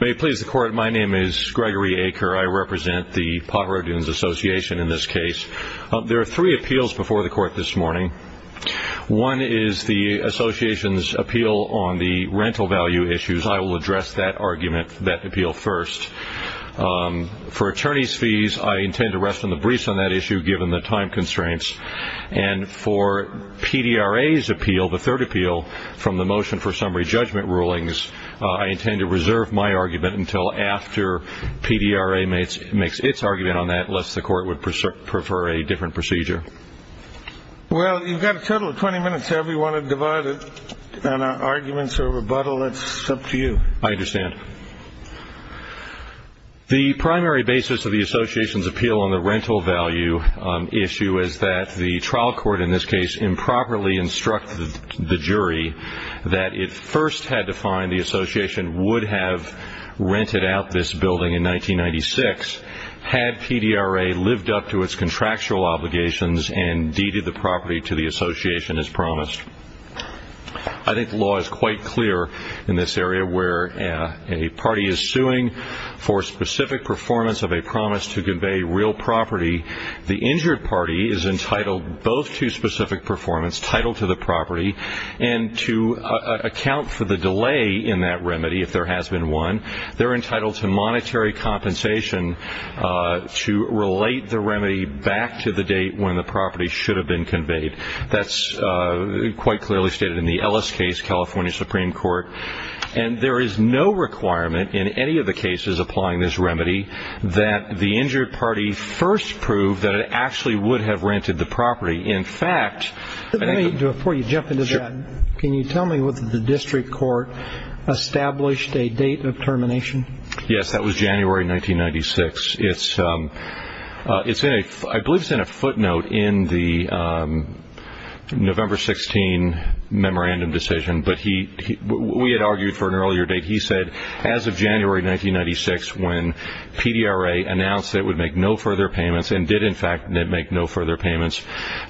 May it please the Court, my name is Gregory Aker. I represent the Pajaro Dunes Association in this case. There are three appeals before the Court this morning. One is the Association's appeal on the rental value issues. I will address that argument, that appeal first. For attorneys' fees, I intend to rest on the briefs on that issue given the time constraints. And for PDRA's appeal, the third appeal from the motion for summary judgment rulings, I intend to reserve my argument until after PDRA makes its argument on that, lest the Court would prefer a different procedure. Well, you've got a total of 20 minutes, sir. If you want to divide it on arguments or rebuttal, that's up to you. I understand. The primary basis of the Association's appeal on the rental value issue is that the trial court in this case improperly instructed the jury that it first had to find the Association would have rented out this building in 1996 had PDRA lived up to its contractual obligations and deeded the property to the Association as promised. I think the law is quite clear in this area where a party is suing for specific performance of a promise to convey real property. The injured party is entitled both to specific performance, title to the property, and to account for the delay in that remedy if there has been one. They're entitled to monetary compensation to relate the remedy back to the date when the property should have been conveyed. That's quite clearly stated in the Ellis case, California Supreme Court. And there is no requirement in any of the cases applying this remedy that the injured party first prove that it actually would have rented the property. In fact, before you jump into that, can you tell me whether the district court established a date of termination? Yes, that was January 1996. I believe it's in a footnote in the November 16 memorandum decision, but we had argued for an earlier date. He said as of January 1996 when PDRA announced it would make no further payments and did, in fact, make no further payments,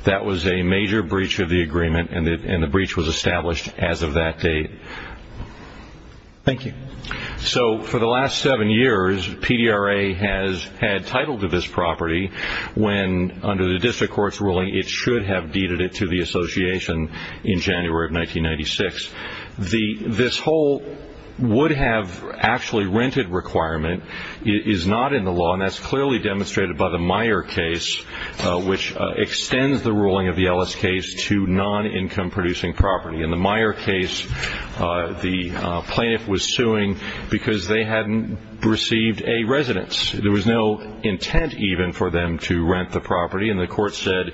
that was a major breach of the agreement and the breach was established as of that date. Thank you. So for the last seven years, PDRA has had title to this property when under the district court's ruling it should have deeded it to the association in January of 1996. This whole would have actually rented requirement is not in the law and that's clearly demonstrated by the Meyer case, which extends the ruling of the Ellis case to non-income producing property. In the Meyer case, the plaintiff was suing because they hadn't received a residence. There was no intent even for them to rent the property and the court said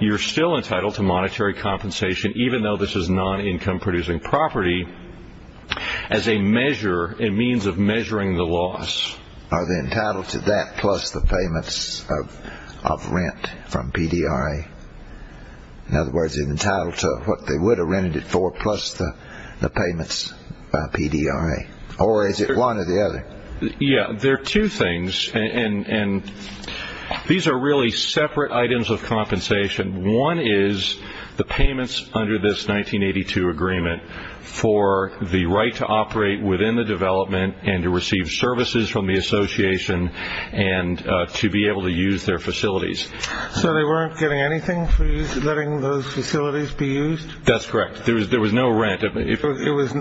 you're still entitled to monetary compensation even though this is non-income producing property as a measure, a means of measuring the loss. Are they entitled to that plus the payments of rent from PDRA? In other words, they're entitled to what they would have rented it for plus the payments by PDRA, or is it one or the other? Yeah, there are two things and these are really separate items of this 1982 agreement for the right to operate within the development and to receive services from the association and to be able to use their facilities. So they weren't getting anything for letting those facilities be used? That's correct. There was no rent. It was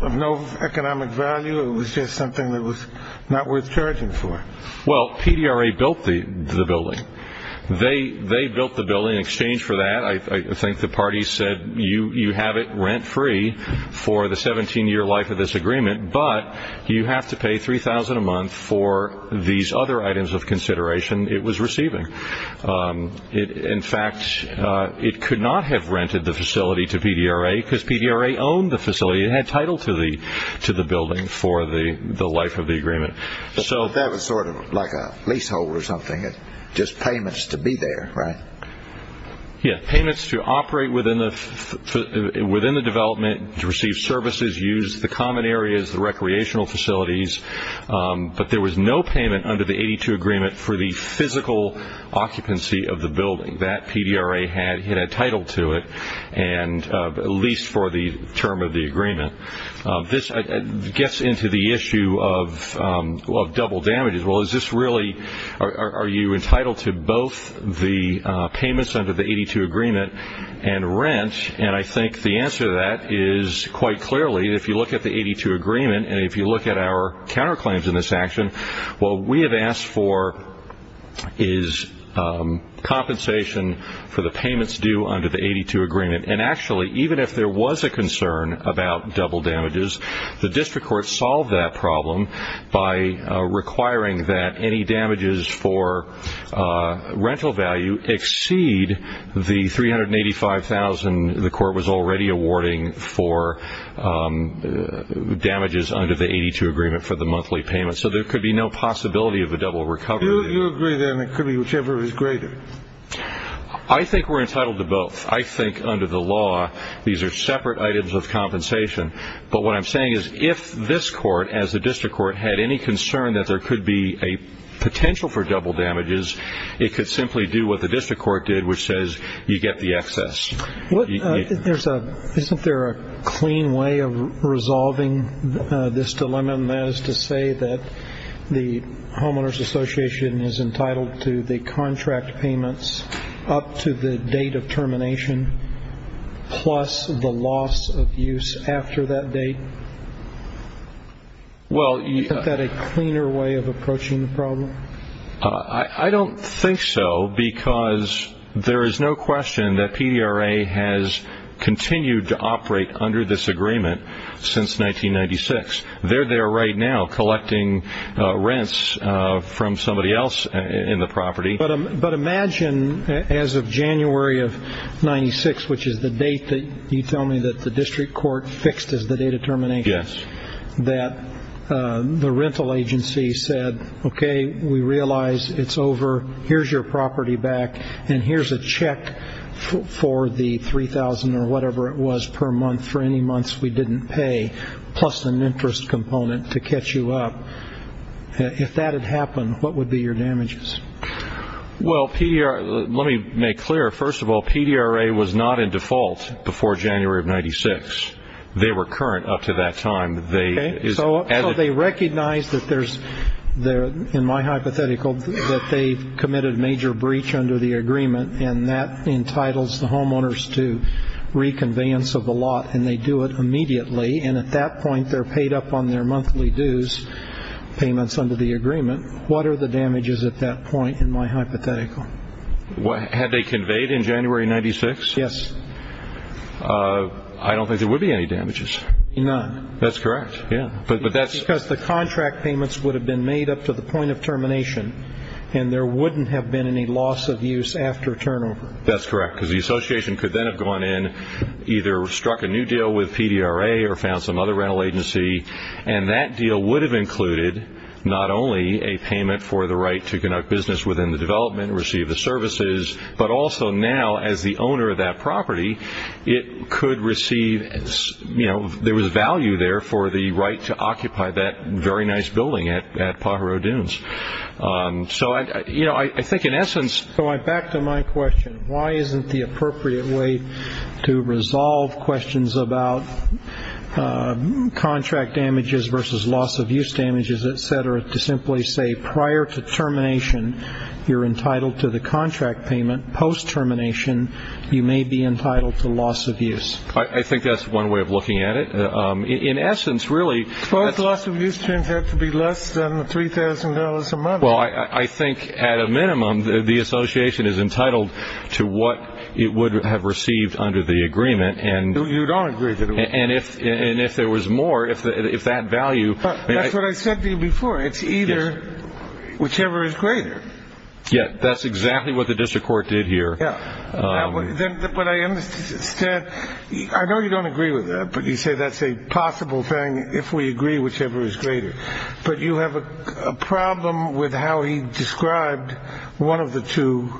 of no economic value. It was just something that was not worth charging for. Well, PDRA built the building. They built the building. You have it rent-free for the 17-year life of this agreement, but you have to pay $3,000 a month for these other items of consideration it was receiving. In fact, it could not have rented the facility to PDRA because PDRA owned the facility and had title to the building for the life of the agreement. That was sort of like a leasehold or something, just payments to be there, right? Yeah, payments to operate within the development to receive services, use the common areas, the recreational facilities, but there was no payment under the 1982 agreement for the physical occupancy of the building. That PDRA had title to it, at least for the term of the agreement. This gets into the issue of double damages. Well, is this really, are you entitled to both the payments under the 82 agreement and rent? I think the answer to that is quite clearly if you look at the 82 agreement and if you look at our counterclaims in this action, what we have asked for is compensation for the payments due under the 82 agreement. Actually, even if there was a concern about double damages, the district court solved that problem by requiring that any damages for rental value exceed the $385,000 the court was already awarding for damages under the 82 agreement for the monthly payments. So there could be no possibility of a double recovery. You agree then it could be whichever is greater? I think we're entitled to both. I think under the law, these are separate items of compensation, but what I'm saying is if this court as a district court had any concern that there could be a potential for double damages, it could simply do what the district court did, which says you get the excess. Isn't there a clean way of resolving this dilemma as to say that the homeowners association is entitled to the contract payments up to the date of termination plus the loss of use after that date? Isn't that a cleaner way of approaching the problem? I don't think so because there is no question that PDRA has continued to operate under this agreement since 1996. They're there right now collecting rents from somebody else in the 1996, which is the date that you tell me that the district court fixed as the date of termination. That the rental agency said, okay, we realize it's over. Here's your property back and here's a check for the $3,000 or whatever it was per month for any months we didn't pay plus an interest component to catch you up. If that had happened, what would be your damages? Well, let me make clear. First of all, PDRA was not in default before January of 1996. They were current up to that time. So they recognize that there's, in my hypothetical, that they've committed major breach under the agreement and that entitles the homeowners to reconveyance of the lot and they do it immediately and at that point they're paid up on their in my hypothetical. Had they conveyed in January of 1996? Yes. I don't think there would be any damages. None. That's correct, yeah. Because the contract payments would have been made up to the point of termination and there wouldn't have been any loss of use after turnover. That's correct because the association could then have gone in either struck a new deal with PDRA or found some other rental agency and that deal would have included not only a payment for the right to business within the development, receive the services, but also now as the owner of that property, it could receive, you know, there was value there for the right to occupy that very nice building at Pajaro Dunes. So, you know, I think in essence... So back to my question. Why isn't the appropriate way to resolve questions about contract damages versus loss of use damages, etc., to simply say prior to termination you're entitled to the contract payment, post termination you may be entitled to loss of use? I think that's one way of looking at it. In essence, really... Well, the loss of use turns out to be less than $3,000 a month. Well, I think at a minimum the association is entitled to what it would have received under the agreement and... It's either whichever is greater. Yeah, that's exactly what the district court did here. I know you don't agree with that, but you say that's a possible thing if we agree whichever is greater. But you have a problem with how he described one of the two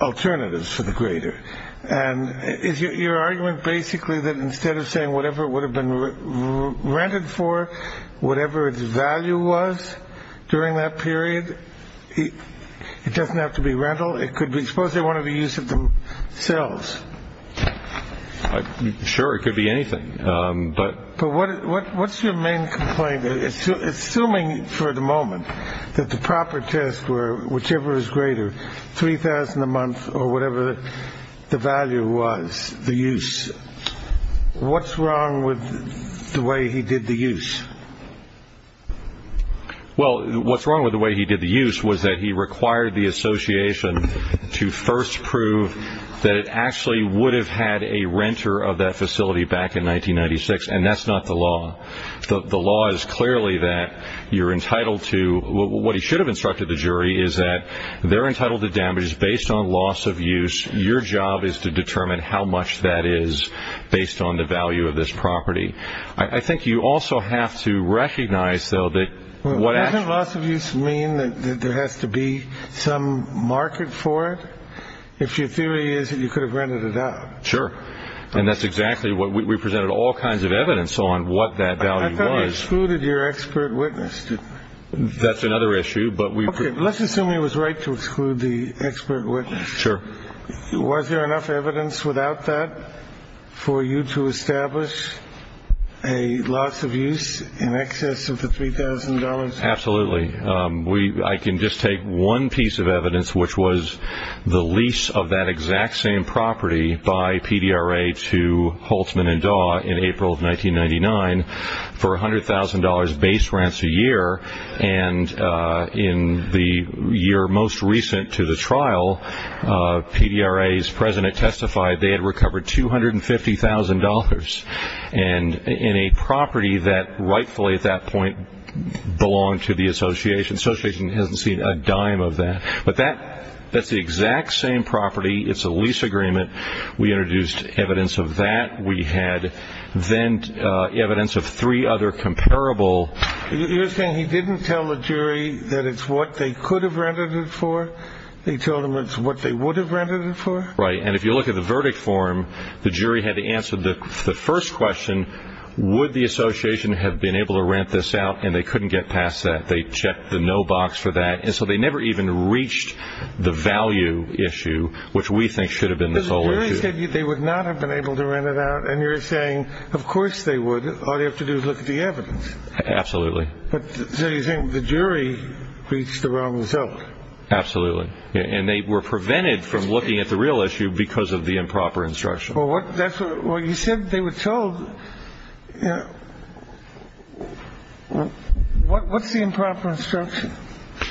alternatives for the greater. And is your argument basically that instead of saying whatever it would have been rented for, whatever its value was during that period, it doesn't have to be rental? It could be... Suppose they wanted to use it themselves. Sure, it could be anything, but... But what's your main complaint? Assuming for the moment that the proper test were whichever is greater, $3,000 a month or whatever the value was, the use, what's wrong with the way he did the use? Well, what's wrong with the way he did the use was that he required the association to first prove that it actually would have had a renter of that facility back in 1996. And that's not the law. The law is clearly that you're entitled to... What he should have instructed the jury is that they're entitled to damages based on loss of use. Your job is to determine how much that is based on the value of this property. I think you also have to recognize though that... Doesn't loss of use mean that there has to be some market for it? If your theory is that you could have rented it out? Sure. And that's exactly what... We presented all kinds of evidence on what that value was. I thought you excluded your expert witness. That's another issue, but we... Let's assume he was right to exclude the expert witness. Sure. Was there enough evidence without that for you to establish a loss of use in excess of the $3,000? Absolutely. I can just take one piece of evidence, which was the lease of that exact same property by PDRA to in the year most recent to the trial. PDRA's president testified they had recovered $250,000 and in a property that rightfully at that point belonged to the association. The association hasn't seen a dime of that. But that's the exact same property. It's a lease agreement. We introduced evidence of that. We had then evidence of three other comparable... You're saying he didn't tell the jury that it's what they could have rented it for? He told them it's what they would have rented it for? Right. And if you look at the verdict form, the jury had to answer the first question, would the association have been able to rent this out? And they couldn't get past that. They checked the no box for that. And so they never even reached the value issue, which we think should have been the... Because the jury said they would not have been able to rent it out. And you're saying, of course they would. All they have to do is look at the evidence. Absolutely. So you think the jury reached the wrong result? Absolutely. And they were prevented from looking at the real issue because of the improper instruction. Well, you said they were told... What's the improper instruction?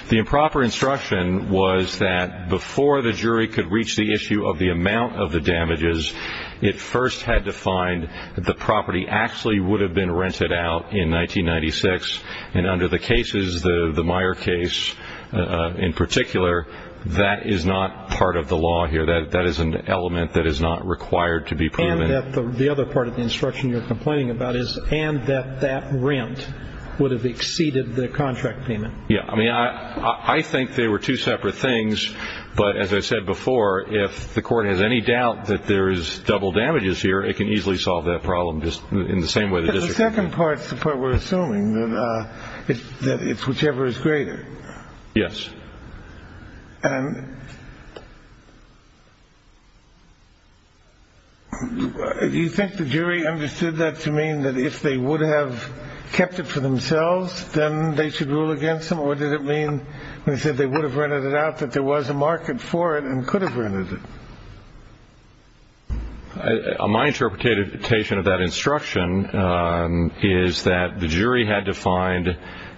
The improper instruction was that before the jury could reach the issue of the amount of the in 1996. And under the cases, the Meyer case in particular, that is not part of the law here. That is an element that is not required to be proven. And that the other part of the instruction you're complaining about is, and that that rent would have exceeded the contract payment. Yeah. I mean, I think they were two separate things. But as I said before, if the court has any doubt that there is double damages here, it can easily solve that problem just in the same way as the second part, the part we're assuming that it's whichever is greater. Yes. And do you think the jury understood that to mean that if they would have kept it for themselves, then they should rule against them? Or did it mean when they said they would have rented it out that there was a market for it and could have rented it? My interpretation of that instruction is that the jury had to find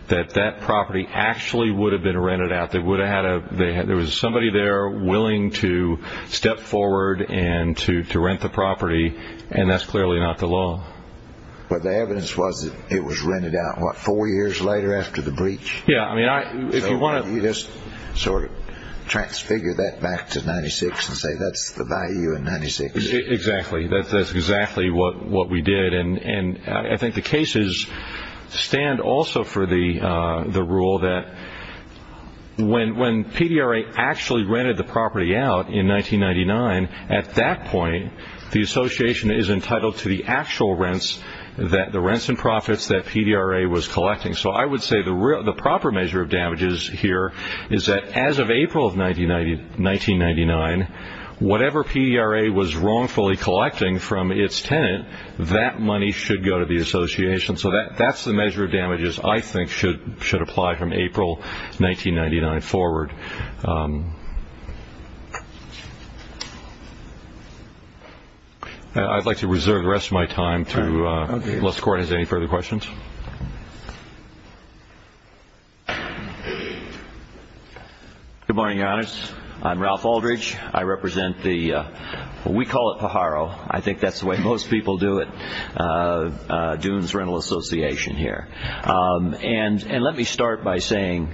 that that property actually would have been rented out. There was somebody there willing to step forward and to rent the property. And that's clearly not the law. But the evidence was that it was rented out, what, four years later after the breach? Yeah. I mean, if you want to just sort of transfigure that back to 96 and say that's the value in 96. Exactly. That's exactly what we did. And I think the cases stand also for the rule that when PDRA actually rented the property out in 1999, at that point, the association is entitled to the actual rents that the rents and profits that PDRA was collecting. So I would say the proper measure of damages here is that as of April of 1999, whatever PDRA was wrongfully collecting from its tenant, that money should go to the association. So that's the measure of damages I think should apply from April 1999 forward. I'd like to reserve the rest of my time unless the Court has any further questions. Good morning, Your Honors. I'm Ralph Aldridge. I represent the, we call it Pajaro. I think that's the way most people do it, Dunes Rental Association here. And let me start by saying,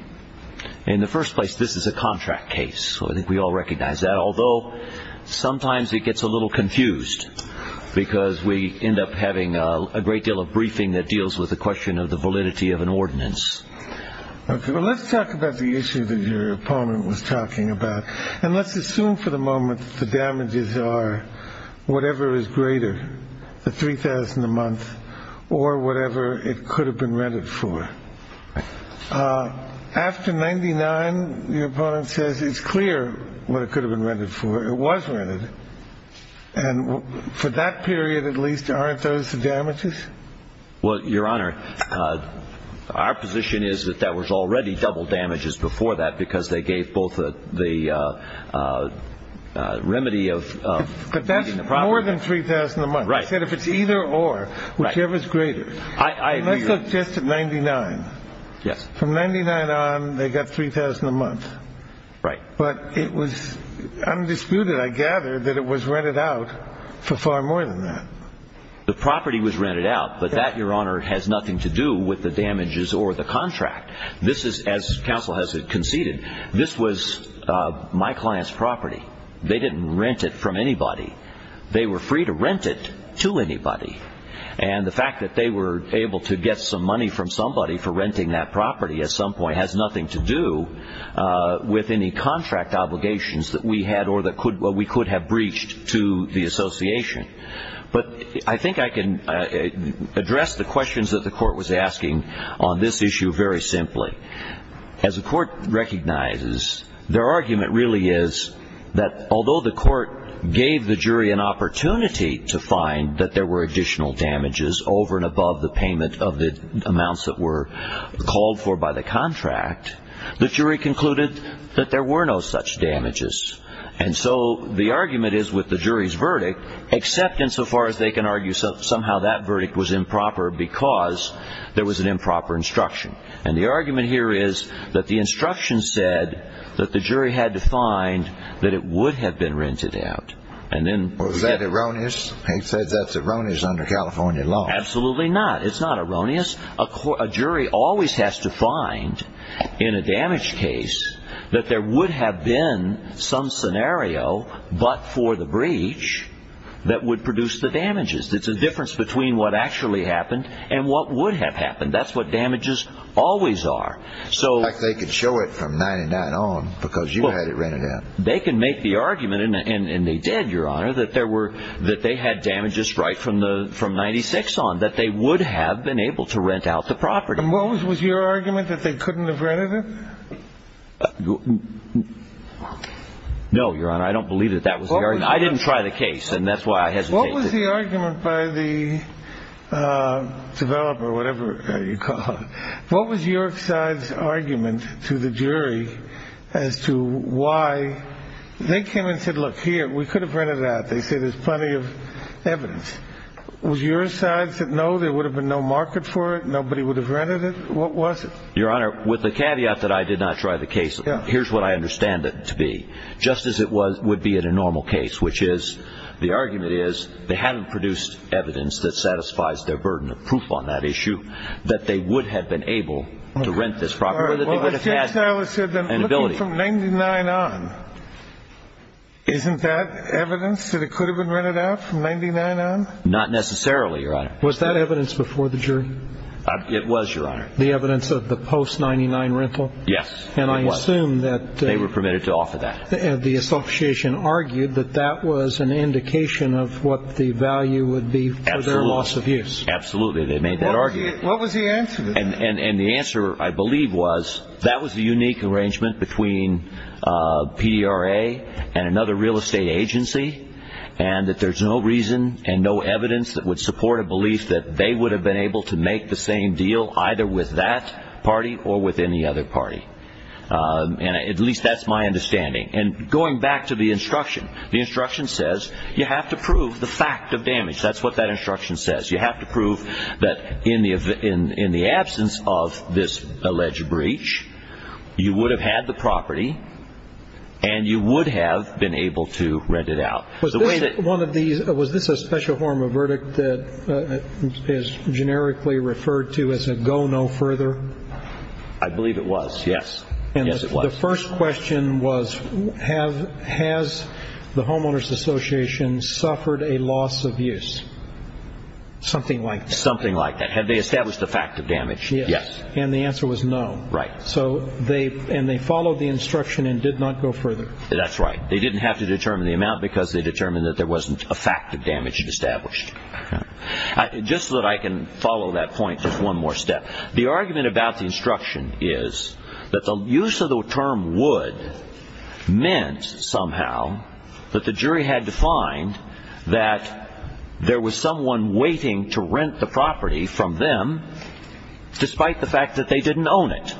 in the first place, this is a contract case. I think we all recognize that. Although sometimes it gets a little confused because we end up having a great deal of briefing that deals with the question of the validity of an ordinance. Okay, well, let's talk about the issue that your opponent was talking about. And let's assume for the moment the damages are whatever is greater, the $3,000 a month or whatever it could have been rented for. After 1999, your opponent says it's clear what it could have been rented for. It was rented. And for that period, at least, aren't those the damages? Well, Your Honor, our position is that that was already double damages before that because they gave both the remedy of... But that's more than $3,000 a month. He said if it's either or, whichever is greater. Let's look just at 1999. From 1999 on, they got $3,000 a month. But it was undisputed, I gather, that it was rented out for far more than that. The property was rented out. But that, Your Honor, has nothing to do with the damages or the contract. This is, as counsel has conceded, this was my client's property. They didn't rent it from anybody. They were free to rent it to anybody. And the fact that they were able to get some money from somebody for renting that property at some point has nothing to do with any contract obligations that we had or that we could have breached to the association. But I think I can address the questions that the Court was asking on this issue very simply. As the Court recognizes, their argument really is that although the Court gave the jury an opportunity to find that there were additional damages over and above the payment of the amounts that were called for by the contract, the jury concluded that there were no such damages. And so the argument is with the jury's verdict, except insofar as they can argue somehow that And the argument here is that the instruction said that the jury had to find that it would have been rented out. And then... Was that erroneous? He said that's erroneous under California law. Absolutely not. It's not erroneous. A jury always has to find in a damaged case that there would have been some scenario but for the breach that would produce the damages. It's a difference between what actually happened and what would have happened. That's what damages always are. In fact, they could show it from 99 on because you had it rented out. They can make the argument, and they did, Your Honor, that they had damages right from 96 on, that they would have been able to rent out the property. And what was your argument? That they couldn't have rented it? No, Your Honor, I don't believe that that was the argument. I didn't try the case and that's What was the argument by the developer or whatever you call it? What was your side's argument to the jury as to why they came and said, look, here, we could have rented it out. They said there's plenty of evidence. Was your side said, no, there would have been no market for it. Nobody would have rented it. What was it? Your Honor, with the caveat that I did not try the case, here's what I understand it to be. Just as it would be in a normal case, which is the argument is they haven't produced evidence that satisfies their burden of proof on that issue, that they would have been able to rent this property, that they would have had an ability from 99 on. Isn't that evidence that it could have been rented out from 99 on? Not necessarily, Your Honor. Was that evidence before the jury? It was, Your Honor. The evidence of the post-99 rental? Yes, it was. And I assume that They were permitted to offer that. The association argued that that was an indication of what the value would be for their loss of use. Absolutely. They made that argument. What was the answer? And the answer, I believe, was that was a unique arrangement between PRA and another real estate agency, and that there's no reason and no evidence that would support a belief that they would have been able to make the same deal either with that other party. And at least that's my understanding. And going back to the instruction, the instruction says you have to prove the fact of damage. That's what that instruction says. You have to prove that in the absence of this alleged breach, you would have had the property and you would have been able to rent it out. Was this a special form of verdict that is generically referred to as a go no further? I believe it was. Yes. And the first question was, has the homeowners association suffered a loss of use? Something like that. Something like that. Have they established the fact of damage? Yes. And the answer was no. Right. So they followed the instruction and did not go further. That's right. They didn't have to determine the amount because they determined that there wasn't a fact of damage established. Just so that I can follow that point, there's one more step. The argument about the instruction is that the use of the term would meant somehow that the jury had to find that there was someone waiting to rent the property from them despite the fact that they didn't own it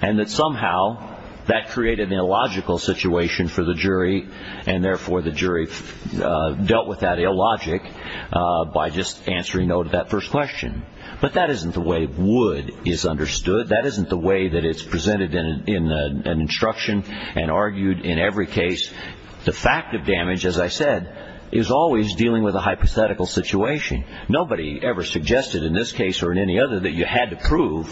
and that somehow that created an illogical situation for the jury and therefore the jury dealt with that illogic by just answering no to that first question. But that isn't the way would is understood. That isn't the way that it's presented in an instruction and argued in every case. The fact of damage, as I said, is always dealing with a hypothetical situation. Nobody ever suggested in this case or in any other that you had to prove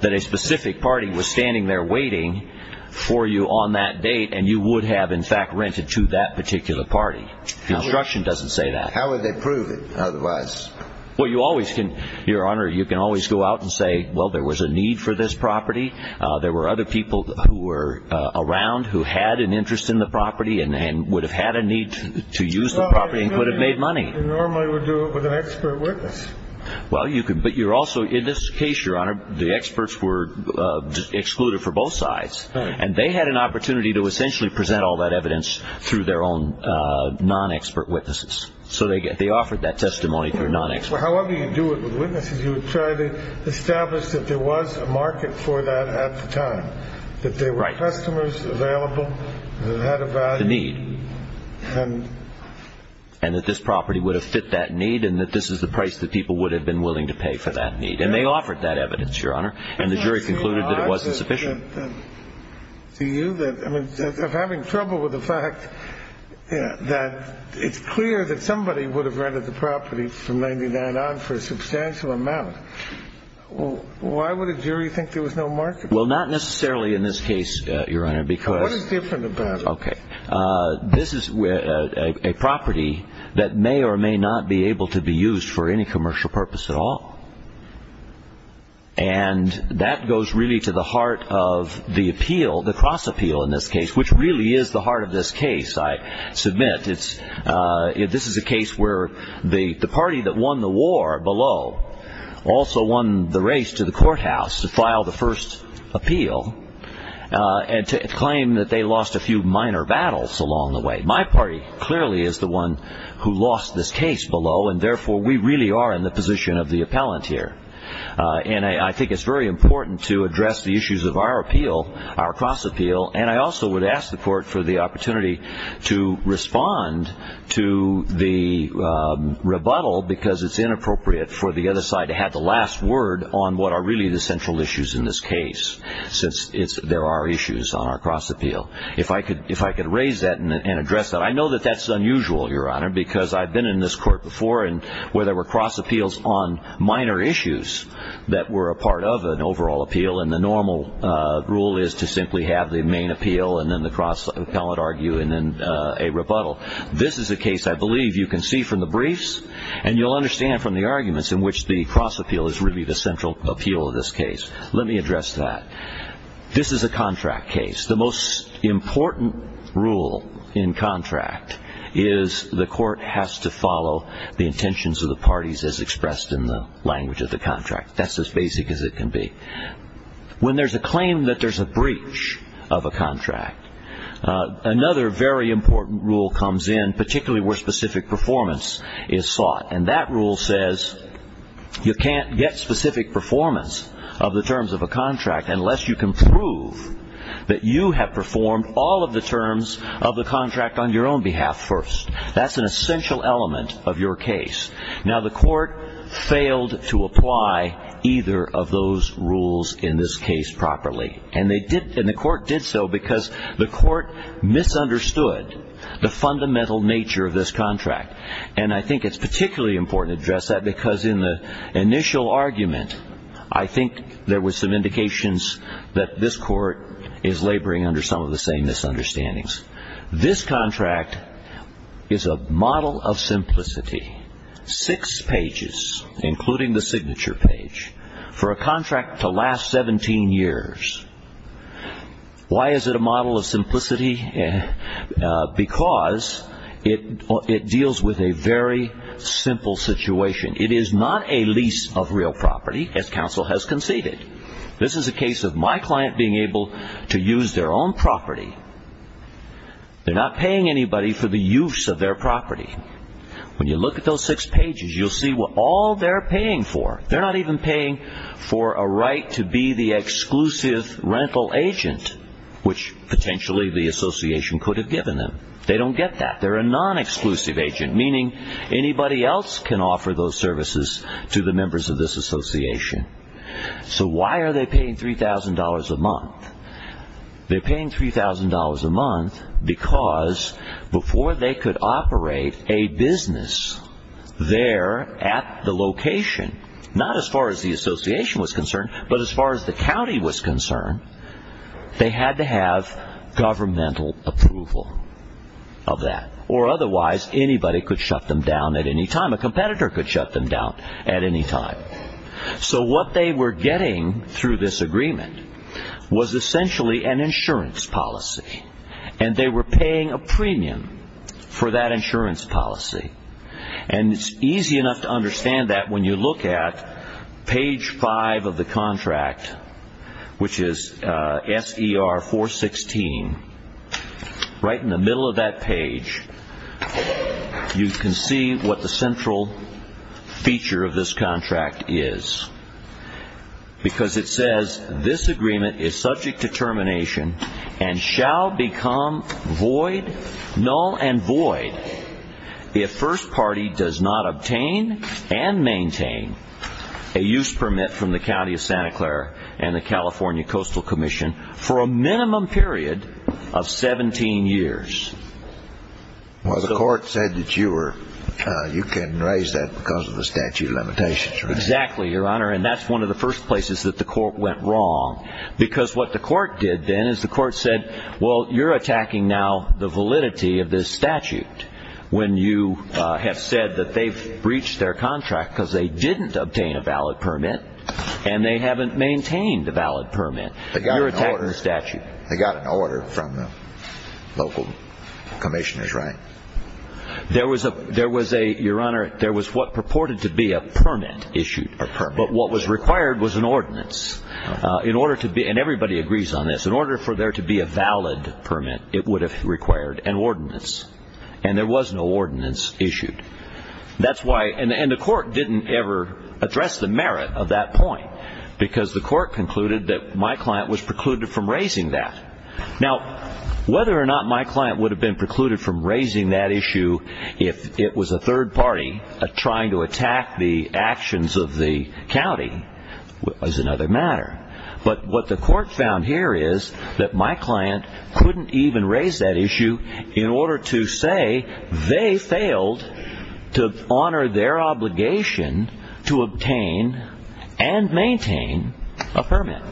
that a specific party was standing there waiting for you on that date and you would have in fact rented to that particular party. The instruction doesn't say that. How would they prove it otherwise? Well, you always can, Your Honor, you can always go out and say, well, there was a need for this property. There were other people who were around who had an interest in the property and would have had a need to use the property and could have made money. You normally would do it with an expert witness. Well, you could. But you're also in this case, Your Honor, the experts were excluded for both sides and they had an opportunity to essentially present all that evidence through their own non-expert witnesses. So they offered that testimony through non-experts. Well, however you do it with witnesses, you would try to establish that there was a market for that at the time, that there were customers available that had a value. The need. And that this property would have fit that need and that this is the price that people would have been willing to pay for that need. And they offered that evidence, Your Honor. And the jury concluded that it wasn't sufficient. And to you that I mean, I'm having trouble with the fact that it's clear that somebody would have rented the property from 99 on for a substantial amount. Why would a jury think there was no market? Well, not necessarily in this case, Your Honor, because. What is different about it? OK, this is a property that may or may not be able to be used for any commercial purpose at all. And that goes really to the heart of the appeal, the cross appeal in this case, which really is the heart of this case. I submit it's this is a case where the party that won the war below also won the race to the courthouse to file the first appeal and to claim that they lost a few minor battles along the way. My party clearly is the one who lost this case below. And therefore, we really are in the position of the appellant here. And I think it's very important to address the issues of our appeal, our cross appeal. And I also would ask the court for the opportunity to respond to the rebuttal because it's inappropriate for the other side to have the last word on what are really the central issues in this case, since there are issues on our cross appeal. If I could raise that and address that, I know that that's unusual, Your Honor, because I've been in this court before where there were cross appeals on minor issues that were a part of an overall appeal. And the normal rule is to simply have the main appeal and then the cross appellate argue and then a rebuttal. This is a case I believe you can see from the briefs and you'll understand from the arguments in which the cross appeal is really the central appeal of this case. Let me address that. This is a contract case. The most important rule in contract is the court has to follow the intentions of the parties as expressed in the language of the contract. That's as basic as it can be. When there's a claim that there's a breach of a contract, another very important rule comes in, particularly where specific performance is sought. And that rule says you can't get specific performance of the terms of a contract unless you can prove that you have performed all of the terms of the contract on your own behalf first. That's an essential element of your case. Now, the court failed to apply either of those rules in this case properly. And the court did so because the court misunderstood the fundamental nature of this contract. And I think it's particularly important to address that because in the initial argument, I think there was some indications that this court is laboring under some of the same misunderstandings. This contract is a model of simplicity. Six pages, including the signature page, for a contract to last 17 years. Why is it a model of simplicity? Because it deals with a very simple situation. It is not a lease of real property, as counsel has conceded. This is a case of my client being able to use their own property. They're not paying anybody for the use of their property. When you look at those six pages, you'll see what all they're paying for. They're not even paying for a right to be the exclusive rental agent, which potentially the association could have given them. They don't get that. They're a non-exclusive agent, meaning anybody else can offer those services to the members of this association. So why are they paying $3,000 a month? They're paying $3,000 a month because before they could operate a business there at the location, not as far as the association was concerned, but as far as the county was concerned, they had to have governmental approval of that. Otherwise, anybody could shut them down at any time. A competitor could shut them down at any time. So what they were getting through this agreement was essentially an insurance policy, and they were paying a premium for that insurance policy. And it's easy enough to understand that when you look at page five of the contract, which you can see what the central feature of this contract is, because it says this agreement is subject to termination and shall become void, null and void, if First Party does not obtain and maintain a use permit from the County of Santa Clara and the California Coastal Commission for a minimum period of 17 years. Well, the court said that you can raise that because of the statute of limitations, right? Exactly, Your Honor. And that's one of the first places that the court went wrong. Because what the court did then is the court said, well, you're attacking now the validity of this statute when you have said that they've breached their contract because they didn't obtain a valid permit and they haven't maintained a valid permit. You're attacking the statute. They got an order from the local commissioners, right? There was a, Your Honor, there was what purported to be a permit issued. A permit. But what was required was an ordinance in order to be, and everybody agrees on this, in order for there to be a valid permit, it would have required an ordinance. And there was no ordinance issued. That's why, and the court didn't ever address the merit of that point because the court concluded that my client was precluded from raising that. Now, whether or not my client would have been precluded from raising that issue if it was a third party trying to attack the actions of the county was another matter. But what the court found here is that my client couldn't even raise that issue in order to they failed to honor their obligation to obtain and maintain a permit.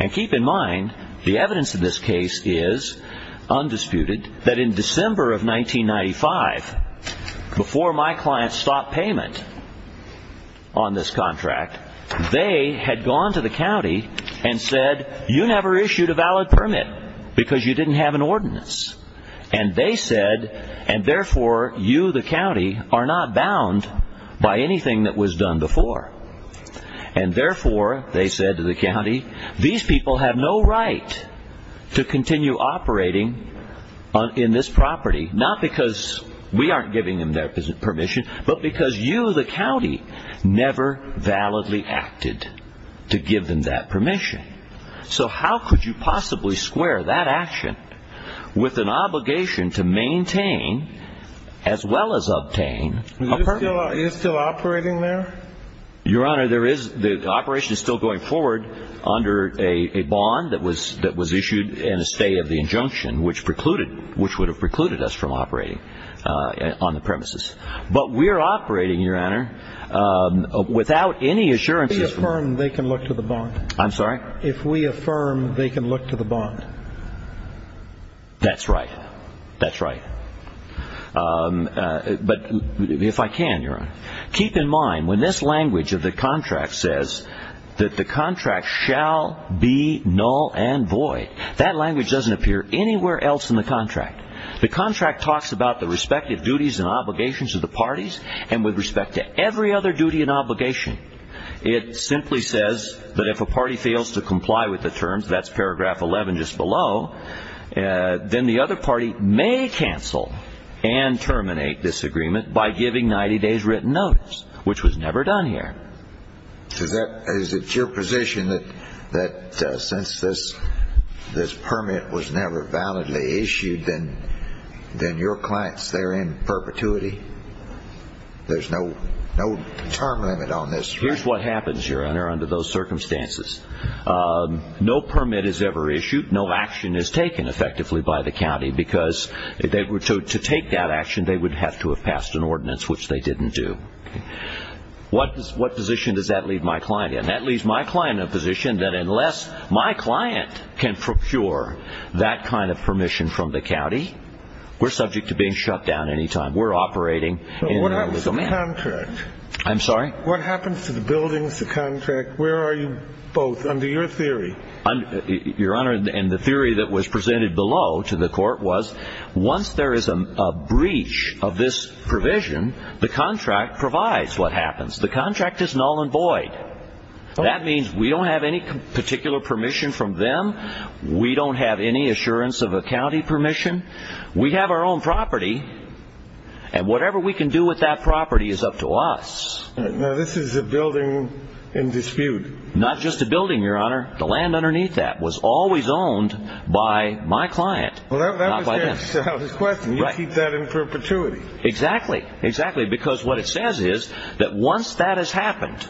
And keep in mind, the evidence in this case is undisputed that in December of 1995, before my client stopped payment on this contract, they had gone to the county and said, you never issued a valid permit because you didn't have an ordinance. And they said, and therefore, you, the county are not bound by anything that was done before. And therefore, they said to the county, these people have no right to continue operating in this property, not because we aren't giving them their permission, but because you, the county never validly acted to give them that permission. So how could you possibly square that action with an obligation to maintain as well as obtain is still operating there? Your Honor, there is the operation is still going forward under a bond that was that was issued in a state of the injunction, which precluded which would have precluded us from operating on the premises. But we're operating, Your Honor, without any assurances. If we affirm, they can look to the bond. I'm sorry? If we affirm, they can look to the bond. That's right. That's right. But if I can, Your Honor, keep in mind when this language of the contract says that the contract shall be null and void, that language doesn't appear anywhere else in the contract. The contract talks about the respective duties and obligations of the parties. And with respect to every other duty and obligation, it simply says that if a party fails to comply with the terms, that's paragraph 11 just below, then the other party may cancel and terminate this agreement by giving 90 days written notice, which was never done here. Is it your position that since this permit was never validly issued, then your client's there in perpetuity? There's no term limit on this, right? Here's what happens, Your Honor, under those circumstances. No permit is ever issued. No action is taken effectively by the county because if they were to take that action, they would have to have passed an ordinance, which they didn't do. What position does that leave my client in? That leaves my client in a position that unless my client can procure that kind of permission from the county, we're subject to being shut down any time. We're operating in the domain. I'm sorry. What happens to the buildings, the contract? Where are you both under your theory? Your Honor, and the theory that was presented below to the court was once there is a breach of this provision, the contract provides what happens. The contract is null and void. That means we don't have any particular permission from them. We don't have any assurance of a county permission. We have our own property. And whatever we can do with that property is up to us. Now, this is a building in dispute. Not just a building, Your Honor. The land underneath that was always owned by my client. Well, that was his question. You keep that in perpetuity. Exactly. Exactly. Because what it says is that once that has happened,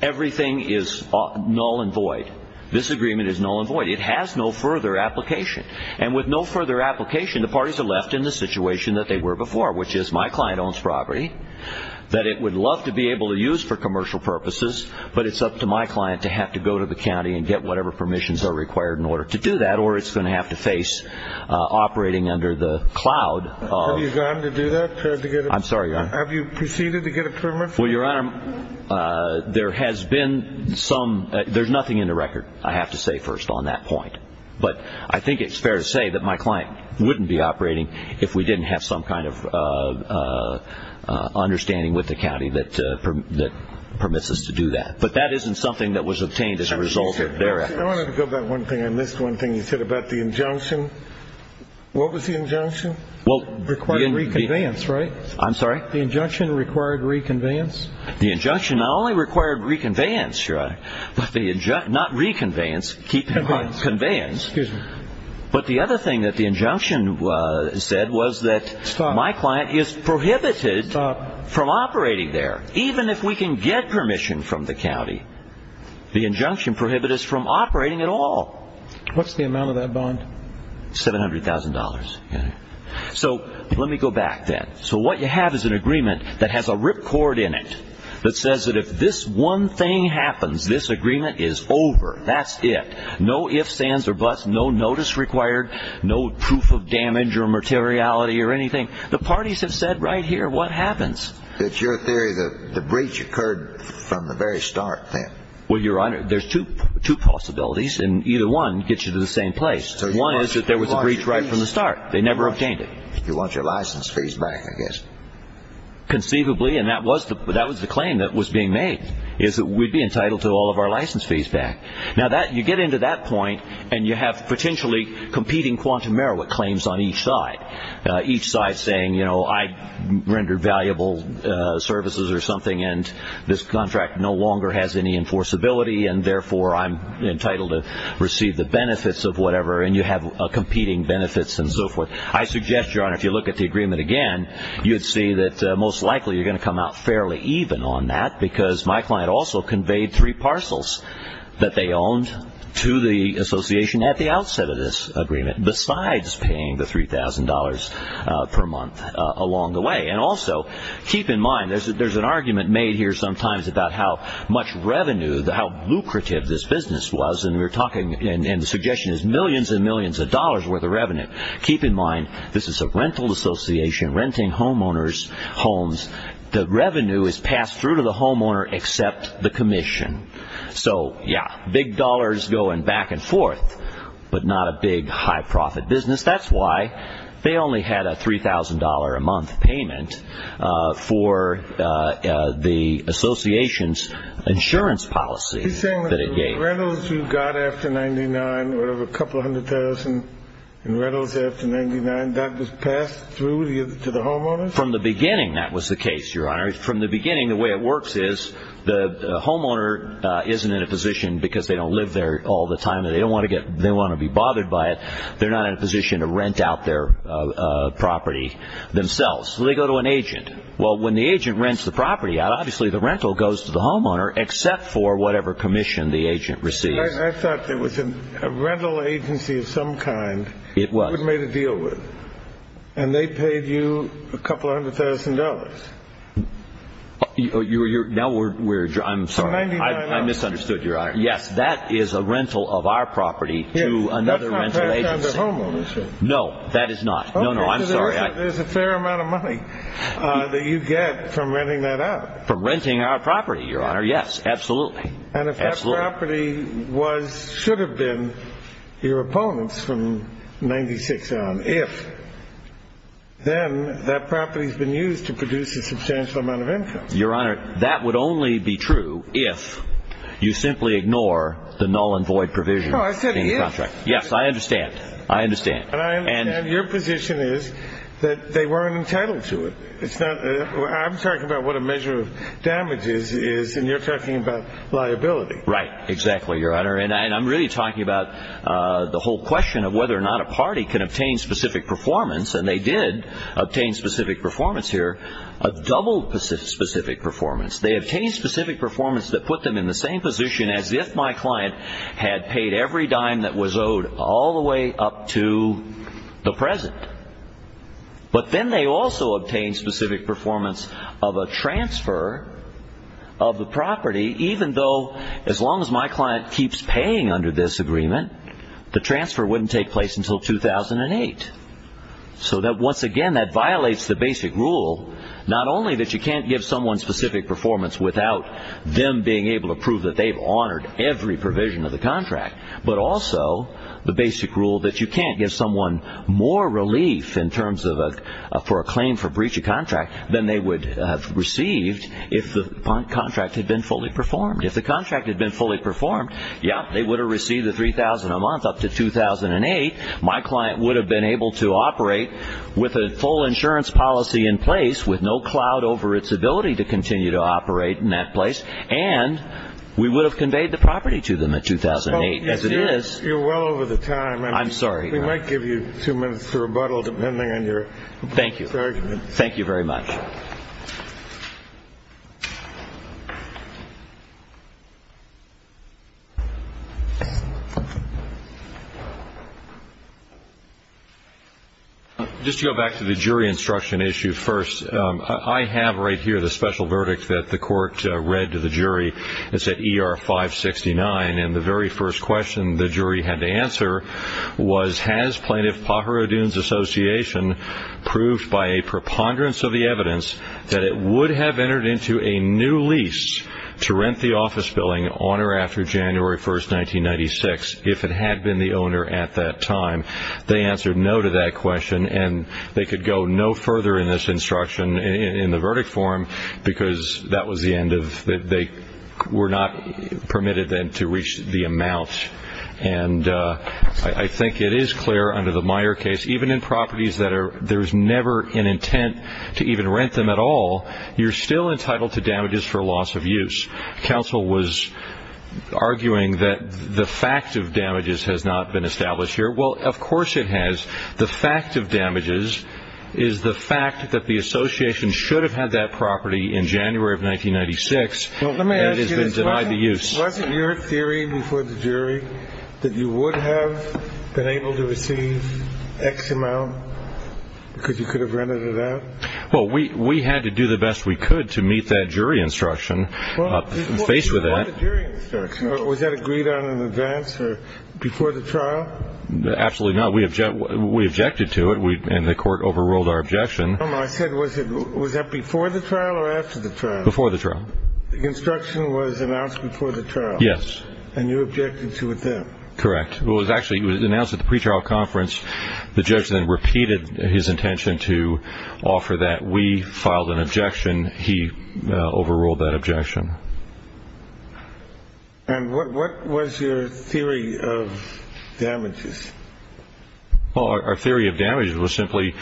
everything is null and void. This agreement is null and void. It has no further application. And with no further application, the parties are left in the situation that they were before, which is my client owns property that it would love to be able to use for commercial purposes. But it's up to my client to have to go to the county and get whatever permissions are required in order to do that. Or it's going to have to face operating under the cloud. Have you gone to do that? I'm sorry, Your Honor. Have you proceeded to get a permit? Well, Your Honor, there has been some, there's nothing in the record, I have to say first on that point. But I think it's fair to say that my client wouldn't be operating if we didn't have some kind of understanding with the county that permits us to do that. But that isn't something that was obtained as a result of their actions. I wanted to go back one thing. I missed one thing you said about the injunction. What was the injunction? Well, required reconveyance, right? I'm sorry? The injunction required reconveyance? The injunction not only required reconveyance, Your Honor, but the, not reconveyance, keep in mind, conveyance. But the other thing that the injunction said was that my client is prohibited from operating there. Even if we can get permission from the county, the injunction prohibits us from operating at all. What's the amount of that bond? $700,000, Your Honor. So let me go back then. So what you have is an agreement that has a ripcord in it that says that if this one thing happens, this agreement is over. That's it. No ifs, ands, or buts. No notice required. No proof of damage or materiality or anything. The parties have said right here, what happens? It's your theory that the breach occurred from the very start then. Well, Your Honor, there's two possibilities, and either one gets you to the same place. One is that there was a breach right from the start. They never obtained it. You want your license fees back, I guess. Conceivably, and that was the claim that was being made, is that we'd be entitled to all of our license fees back. Now you get into that point, and you have potentially competing quantum merit claims on each side. Each side saying, you know, I rendered valuable services or something, and this contract no longer has any enforceability, and therefore I'm entitled to receive the benefits of whatever, and you have competing benefits and so forth. I suggest, Your Honor, if you look at the agreement again, you'd see that most likely you're going to come out fairly even on that, because my client also conveyed three parcels that they owned to the association at the outset of this agreement, besides paying the $3,000 per month along the way. And also, keep in mind, there's an argument made here sometimes about how much revenue, how lucrative this business was, and we were talking, and the suggestion is millions and millions of dollars worth of revenue. Keep in mind, this is a rental association, renting homeowners' homes. The revenue is passed through to the homeowner except the commission. So, yeah, big dollars going back and forth, but not a big, high-profit business. That's why they only had a $3,000 a month payment for the association's insurance policy. He's saying that the rentals you got after 99, whatever, a couple hundred thousand in rentals after 99, that was passed through to the homeowners? From the beginning, that was the case, Your Honor. From the beginning, the way it works is the homeowner isn't in a position, because they don't live there all the time and they don't want to be bothered by it, they're not in a position to rent out their property themselves. So they go to an agent. Well, when the agent rents the property out, obviously the rental goes to the homeowner except for whatever commission the agent receives. I thought there was a rental agency of some kind you had made a deal with, and they paid you a couple hundred thousand dollars. You're, now we're, I'm sorry, I misunderstood, Your Honor. Yes, that is a rental of our property to another rental agency. No, that is not. No, no, I'm sorry. There's a fair amount of money that you get from renting that out. From renting our property, Your Honor. Yes, absolutely. And if that property was, should have been your opponent's from 96 on, if, then that Your Honor, that would only be true if you simply ignore the null and void provision. Yes, I understand. I understand. Your position is that they weren't entitled to it. It's not, I'm talking about what a measure of damage is, is, and you're talking about liability. Right, exactly, Your Honor. And I'm really talking about the whole question of whether or not a party can obtain specific performance, and they did obtain specific performance here, a double specific performance. They obtained specific performance that put them in the same position as if my client had paid every dime that was owed all the way up to the present. But then they also obtained specific performance of a transfer of the property, even though as long as my client keeps paying under this agreement, the transfer wouldn't take place until 2008. So that, once again, that violates the basic rule, not only that you can't give someone specific performance without them being able to prove that they've honored every provision of the contract, but also the basic rule that you can't give someone more relief in terms of a, for a claim for breach of contract than they would have received if the contract had been fully performed. If the contract had been fully performed, yeah, they would have received the $3,000 a month up to 2008. My client would have been able to operate with a full insurance policy in place with no cloud over its ability to continue to operate in that place. And we would have conveyed the property to them in 2008, as it is. You're well over the time. I'm sorry. We might give you two minutes to rebuttal, depending on your argument. Thank you. Thank you very much. Just to go back to the jury instruction issue first, I have right here the special verdict that the court read to the jury. It's at ER 569. And the very first question the jury had to answer was, has Plaintiff Pajaro Dunes Association proved by a preponderance of the evidence that it would have entered into a new lease to rent the office building on or after January 1, 1996, if it had been the owner at that time? They answered no to that question. And they could go no further in this instruction in the verdict form, because that was the end of it. They were not permitted then to reach the amount. And I think it is clear under the Meyer case, even in properties that there's never an intent to even rent them at all, you're still entitled to damages for loss of use. Counsel was arguing that the fact of damages has not been established here. Well, of course it has. The fact of damages is the fact that the association should have had that property in January of 1996 and has been denied the use. Wasn't your theory before the jury that you would have been able to receive X amount because you could have rented it out? Well, we had to do the best we could to meet that jury instruction faced with that. You had a jury instruction. Was that agreed on in advance or before the trial? Absolutely not. We objected to it, and the court overruled our objection. No, no. I said, was that before the trial or after the trial? Before the trial. The instruction was announced before the trial? Yes. And you objected to it then? Correct. Well, it was actually announced at the pretrial conference. The judge then repeated his intention to offer that. We filed an objection. He overruled that objection. And what was your theory of damages? Well, our theory of damages was simply,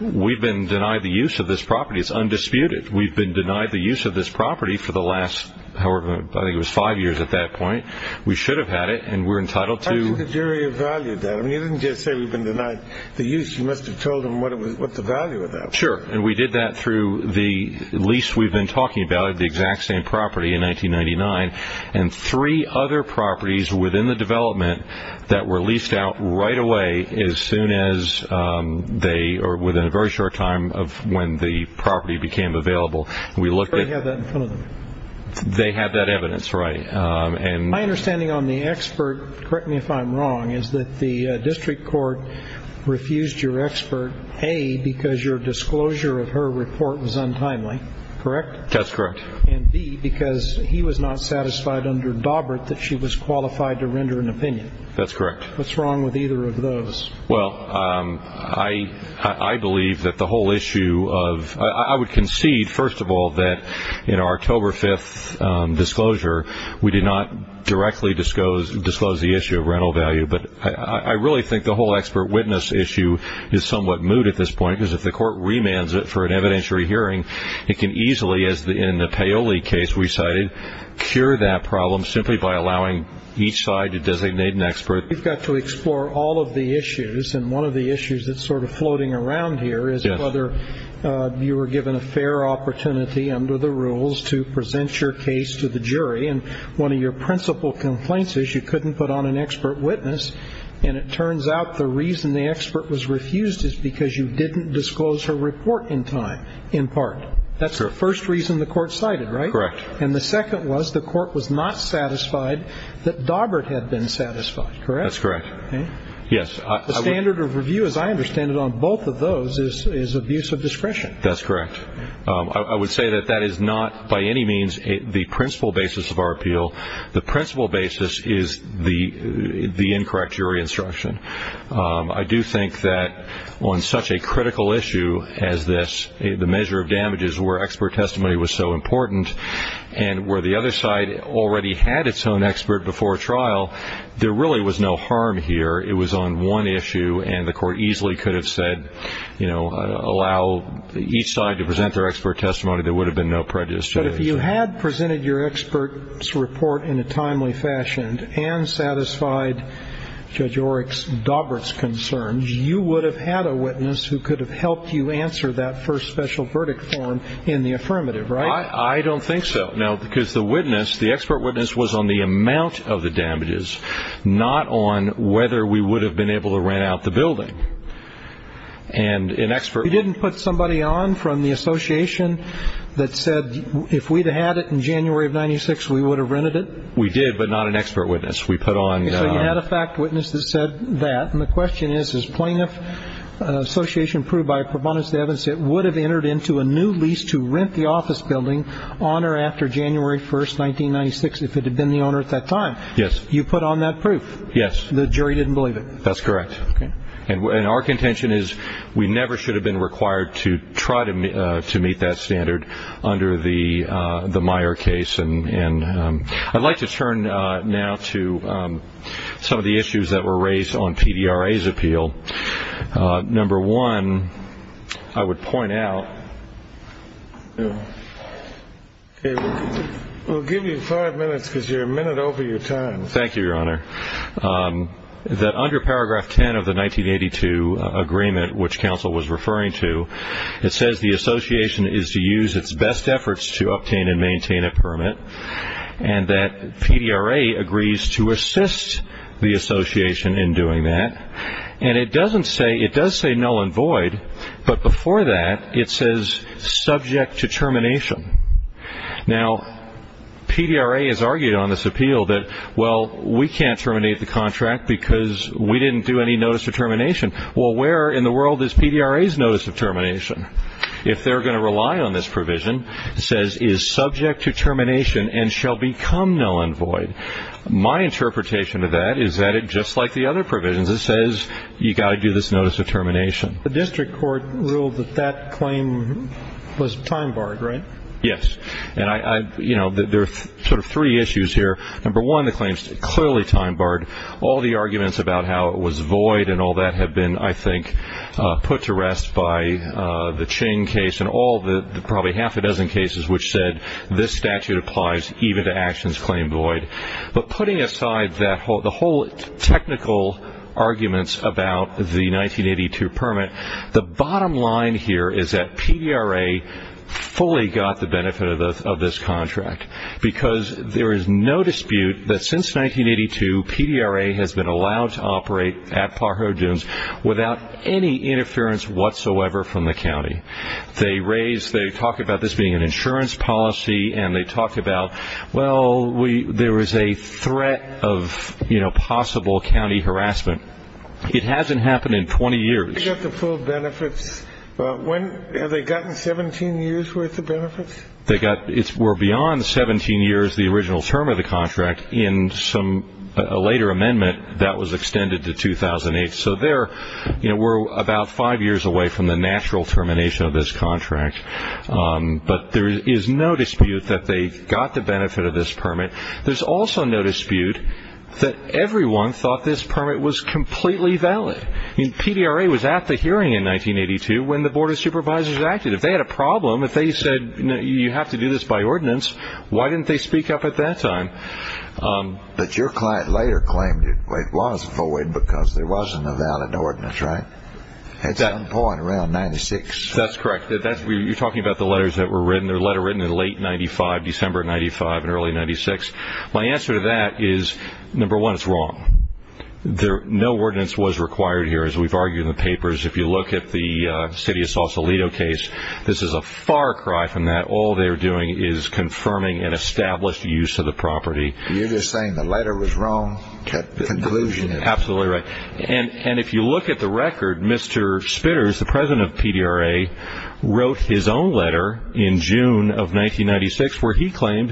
we've been denied the use of this property. It's undisputed. We've been denied the use of this property for the last, however, I think it was five years at that point. We should have had it, and we're entitled to. I think the jury evaluated that. You didn't just say we've been denied the use. You must have told them what the value of that was. Sure. And we did that through the lease we've been talking about, the exact same property in 1999, and three other properties within the development that were leased out right away as soon as they, or within a very short time of when the property became available. We looked at- The jury had that in front of them. They had that evidence, right. My understanding on the expert, correct me if I'm wrong, is that the district court refused your expert, A, because your disclosure of her report was untimely, correct? That's correct. And B, because he was not satisfied under Daubert that she was qualified to render an opinion. That's correct. What's wrong with either of those? Well, I believe that the whole issue of, I would concede, first of all, that in our October 5th disclosure, we did not directly disclose the issue of rental value, but I really think the whole expert witness issue is somewhat moot at this point, because if the court remands it for an evidentiary hearing, it can easily, as in the Paoli case we cited, cure that problem simply by allowing each side to designate an expert. We've got to explore all of the issues, and one of the issues that's sort of floating around here is whether you were given a fair opportunity under the rules to present your case to the jury, and one of your principal complaints is you couldn't put on an expert witness, and it turns out the reason the expert was refused is because you didn't disclose her report in time, in part. That's the first reason the court cited, right? Correct. And the second was the court was not satisfied that Daubert had been satisfied, correct? That's correct. Okay? Yes. The standard of review, as I understand it, on both of those is abuse of discretion. That's correct. I would say that that is not by any means the principal basis of our appeal. The principal basis is the incorrect jury instruction. I do think that on such a critical issue as this, the measure of damages where expert testimony was so important and where the other side already had its own expert before trial, there really was no harm here. It was on one issue, and the court easily could have said, you know, allow each side to present their expert testimony. There would have been no prejudice. But if you had presented your expert's report in a timely fashion and satisfied Judge Oreck's, Daubert's concerns, you would have had a witness who could have helped you answer that first special verdict form in the affirmative, right? I don't think so. Now, because the witness, the expert witness was on the amount of the damages, not on whether we would have been able to rent out the building. And an expert. You didn't put somebody on from the association that said if we'd had it in January of 96, we would have rented it. We did, but not an expert witness. We put on. So you had a fact witness that said that. And the question is, is plaintiff association proved by a performance evidence that would have entered into a new lease to rent the office building on or after January 1st, 1996, if it had been the owner at that time? Yes. You put on that proof. Yes. The jury didn't believe it. That's correct. And our contention is we never should have been required to try to meet that standard under the Meyer case. And I'd like to turn now to some of the issues that were raised on PDRA's appeal. Number one, I would point out. We'll give you five minutes because you're a minute over your time. Thank you, Your Honor. That under paragraph 10 of the 1982 agreement, which counsel was referring to, it says the association is to use its best efforts to obtain and maintain a permit and that PDRA agrees to assist the association in doing that. And it doesn't say it does say null and void. But before that, it says subject to termination. Now, PDRA has argued on this appeal that, well, we can't terminate the contract because we didn't do any notice of termination. Well, where in the world is PDRA's notice of termination? If they're going to rely on this provision, it says is subject to termination and shall become null and void. My interpretation of that is that it just like the other provisions, it says you got to do this notice of termination. The district court ruled that that claim was time barred, right? Yes. And there are sort of three issues here. Number one, the claim is clearly time barred. All the arguments about how it was void and all that have been, I think, put to rest by the Ching case and all the probably half a dozen cases which said this statute applies even to actions claimed void. But putting aside the whole technical arguments about the 1982 permit, the bottom line here is that PDRA fully got the benefit of this contract because there is no dispute that since 1982, PDRA has been allowed to operate at Pajaro Dunes without any interference whatsoever from the county. They talk about this being an insurance policy and they talk about, well, there was a threat of possible county harassment. It hasn't happened in 20 years. They got the full benefits. Have they gotten 17 years worth of benefits? They got, it's more beyond 17 years, the original term of the contract in some later amendment that was extended to 2008. So there, we're about five years away from the natural termination of this contract. But there is no dispute that they got the benefit of this permit. There's also no dispute that everyone thought this permit was completely valid. I mean, PDRA was at the hearing in 1982 when the Board of Supervisors acted. If they had a problem, if they said, you know, you have to do this by ordinance, why didn't they speak up at that time? But your client later claimed it was void because there wasn't a valid ordinance, right? At some point around 96. That's correct. You're talking about the letters that were written. They're letter written in late 95, December of 95 and early 96. My answer to that is number one, it's wrong. No ordinance was required here, as we've argued in the papers. If you look at the city of Sausalito case, this is a far cry from that. All they're doing is confirming an established use of the property. You're just saying the letter was wrong, the conclusion. Absolutely right. And if you look at the record, Mr. Spitters, the president of PDRA, wrote his own letter in June of 1996, where he claimed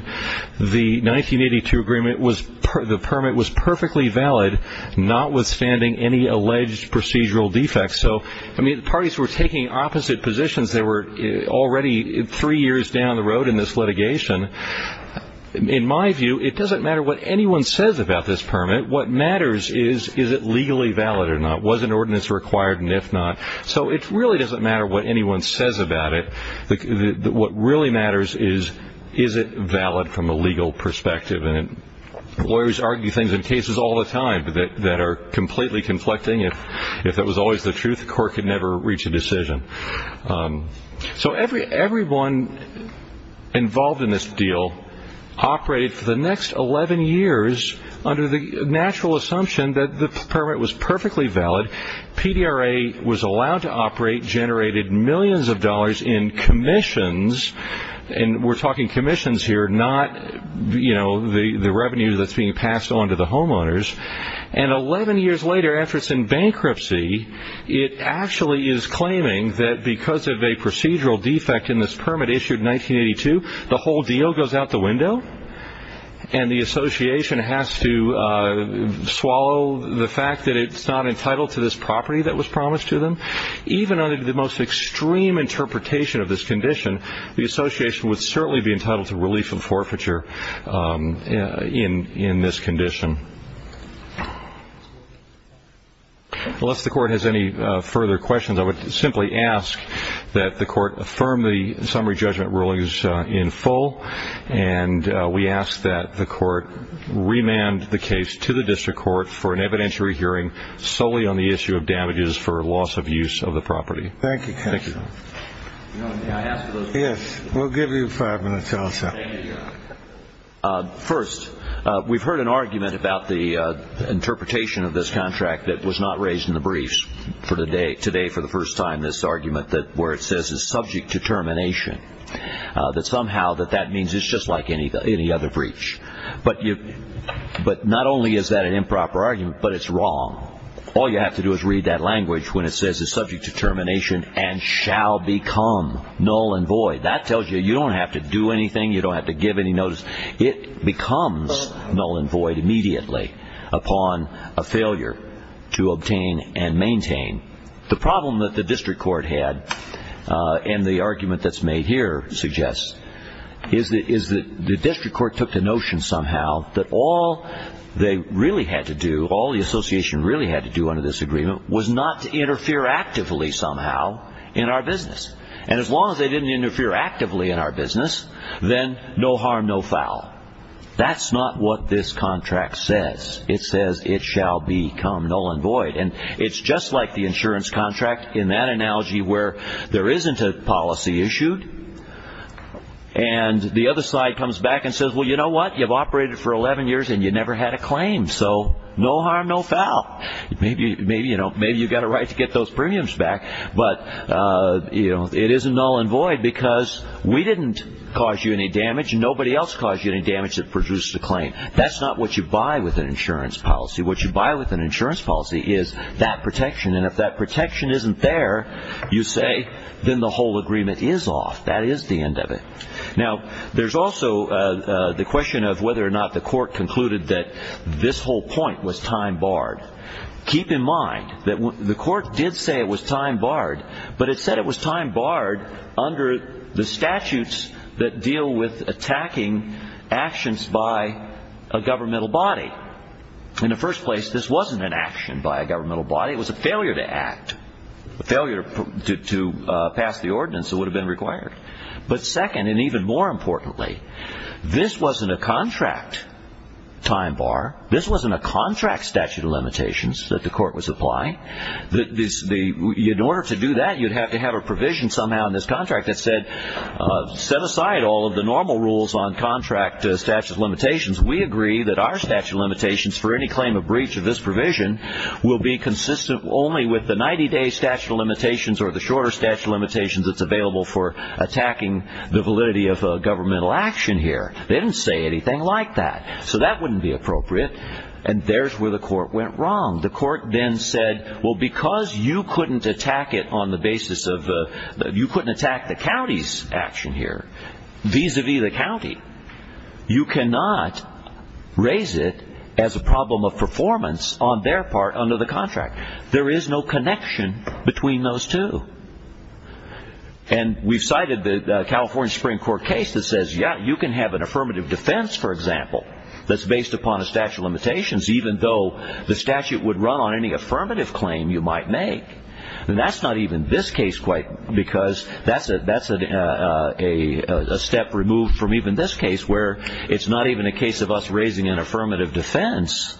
the 1982 agreement was the permit was perfectly valid, notwithstanding any alleged procedural defects. So I mean, the parties were taking opposite positions. They were already three years down the road in this litigation. In my view, it doesn't matter what anyone says about this permit. What matters is, is it legally valid or not? Was an ordinance required? And if not, so it really doesn't matter what anyone says about it. What really matters is, is it valid from a legal perspective? And lawyers argue things in cases all the time that are completely conflicting. If that was always the truth, the court could never reach a decision. So everyone involved in this deal operated for the next 11 years under the natural assumption that the permit was perfectly valid. PDRA was allowed to operate, generated millions of dollars in commissions. And we're talking commissions here, not the revenue that's being passed on to the homeowners. And 11 years later, after it's in bankruptcy, it actually is claiming that because of a procedural defect in this permit issued in 1982, the whole deal goes out the window. And the association has to swallow the fact that it's not entitled to this property that was promised to them. Even under the most extreme interpretation of this condition, the association would certainly be entitled to relief and forfeiture in this condition. Unless the court has any further questions, I would simply ask that the court affirm the we ask that the court remand the case to the district court for an evidentiary hearing solely on the issue of damages for loss of use of the property. Thank you, counsel. Yes, we'll give you five minutes also. First, we've heard an argument about the interpretation of this contract that was not raised in the briefs today for the first time, this argument that where it says it's subject to termination, that somehow that means it's just like any other breach. But not only is that an improper argument, but it's wrong. All you have to do is read that language when it says it's subject to termination and shall become null and void. That tells you you don't have to do anything. You don't have to give any notice. The problem that the district court had and the argument that's made here suggests is that the district court took the notion somehow that all they really had to do, all the association really had to do under this agreement was not to interfere actively somehow in our business. And as long as they didn't interfere actively in our business, then no harm, no foul. That's not what this contract says. It says it shall become null and void. It's just like the insurance contract in that analogy where there isn't a policy issued and the other side comes back and says, well, you know what? You've operated for 11 years and you never had a claim. So no harm, no foul. Maybe you've got a right to get those premiums back, but it is null and void because we didn't cause you any damage and nobody else caused you any damage that produced the claim. That's not what you buy with an insurance policy. What you buy with an insurance policy is that protection. And if that protection isn't there, you say, then the whole agreement is off. That is the end of it. Now, there's also the question of whether or not the court concluded that this whole point was time barred. Keep in mind that the court did say it was time barred, but it said it was time barred under the statutes that deal with attacking actions by a governmental body. In the first place, this wasn't an action by a governmental body. It was a failure to act, a failure to pass the ordinance that would have been required. But second, and even more importantly, this wasn't a contract time bar. This wasn't a contract statute of limitations that the court was applying. In order to do that, you'd have to have a provision somehow in this contract that said, set aside all of the normal rules on contract statute of limitations. We agree that our statute of limitations for any claim of breach of this provision will be consistent only with the 90-day statute of limitations or the shorter statute of limitations that's available for attacking the validity of a governmental action here. They didn't say anything like that. So that wouldn't be appropriate. And there's where the court went wrong. The court then said, well, because you couldn't attack it on the basis of, you couldn't attack the county's action here vis-a-vis the county. You cannot raise it as a problem of performance on their part under the contract. There is no connection between those two. And we've cited the California Supreme Court case that says, yeah, you can have an affirmative defense, for example, that's based upon a statute of limitations, even though the statute would run on any affirmative claim you might make. And that's not even this case quite because that's a step removed from even this case where it's not even a case of us raising an affirmative defense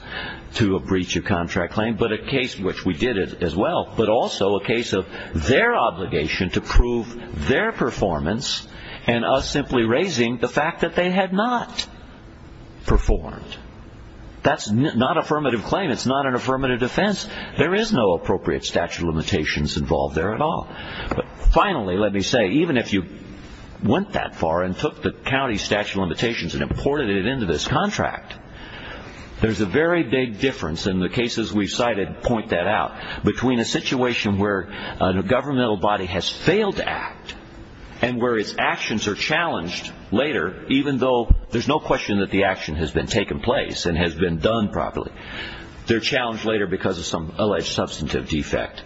to a breach of contract claim, but a case which we did it as well, but also a case of their obligation to prove their performance and us simply raising the fact that they had not performed. That's not affirmative claim. It's not an affirmative defense. There is no appropriate statute of limitations involved there at all. But finally, let me say, even if you went that far and took the county statute of limitations and imported it into this contract, there's a very big difference in the cases we've cited, point that out, between a situation where a governmental body has failed to act and where its actions are challenged later, even though there's no question that the action has been taken place and has been done properly. They're challenged later because of some alleged substantive defect.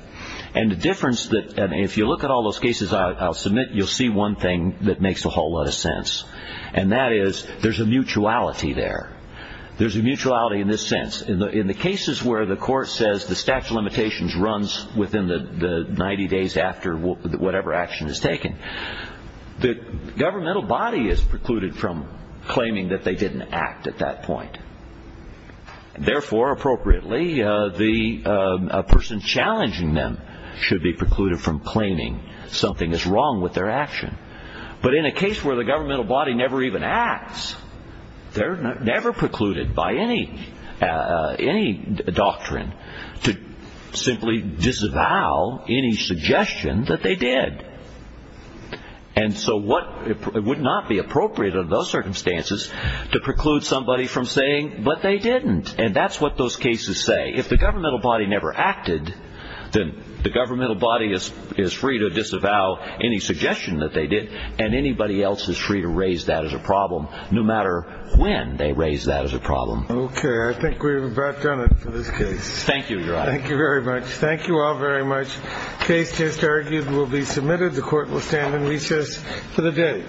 And the difference that, and if you look at all those cases I'll submit, you'll see one thing that makes a whole lot of sense. And that is there's a mutuality there. There's a mutuality in this sense. In the cases where the court says the statute of limitations runs within the 90 days after whatever action is taken, the governmental body is precluded from claiming that they didn't act at that point. And therefore, appropriately, the person challenging them should be precluded from claiming something is wrong with their action. But in a case where the governmental body never even acts, they're never precluded by any doctrine to simply disavow any suggestion that they did. And so what, it would not be appropriate under those circumstances to preclude somebody from saying, but they didn't. And that's what those cases say. If the governmental body never acted, then the governmental body is free to disavow any suggestion that they did. And anybody else is free to raise that as a problem, no matter when they raise that as a problem. Okay, I think we've about done it for this case. Thank you, Your Honor. Thank you very much. Thank you all very much. Case just argued will be submitted. The court will stand in recess for the day.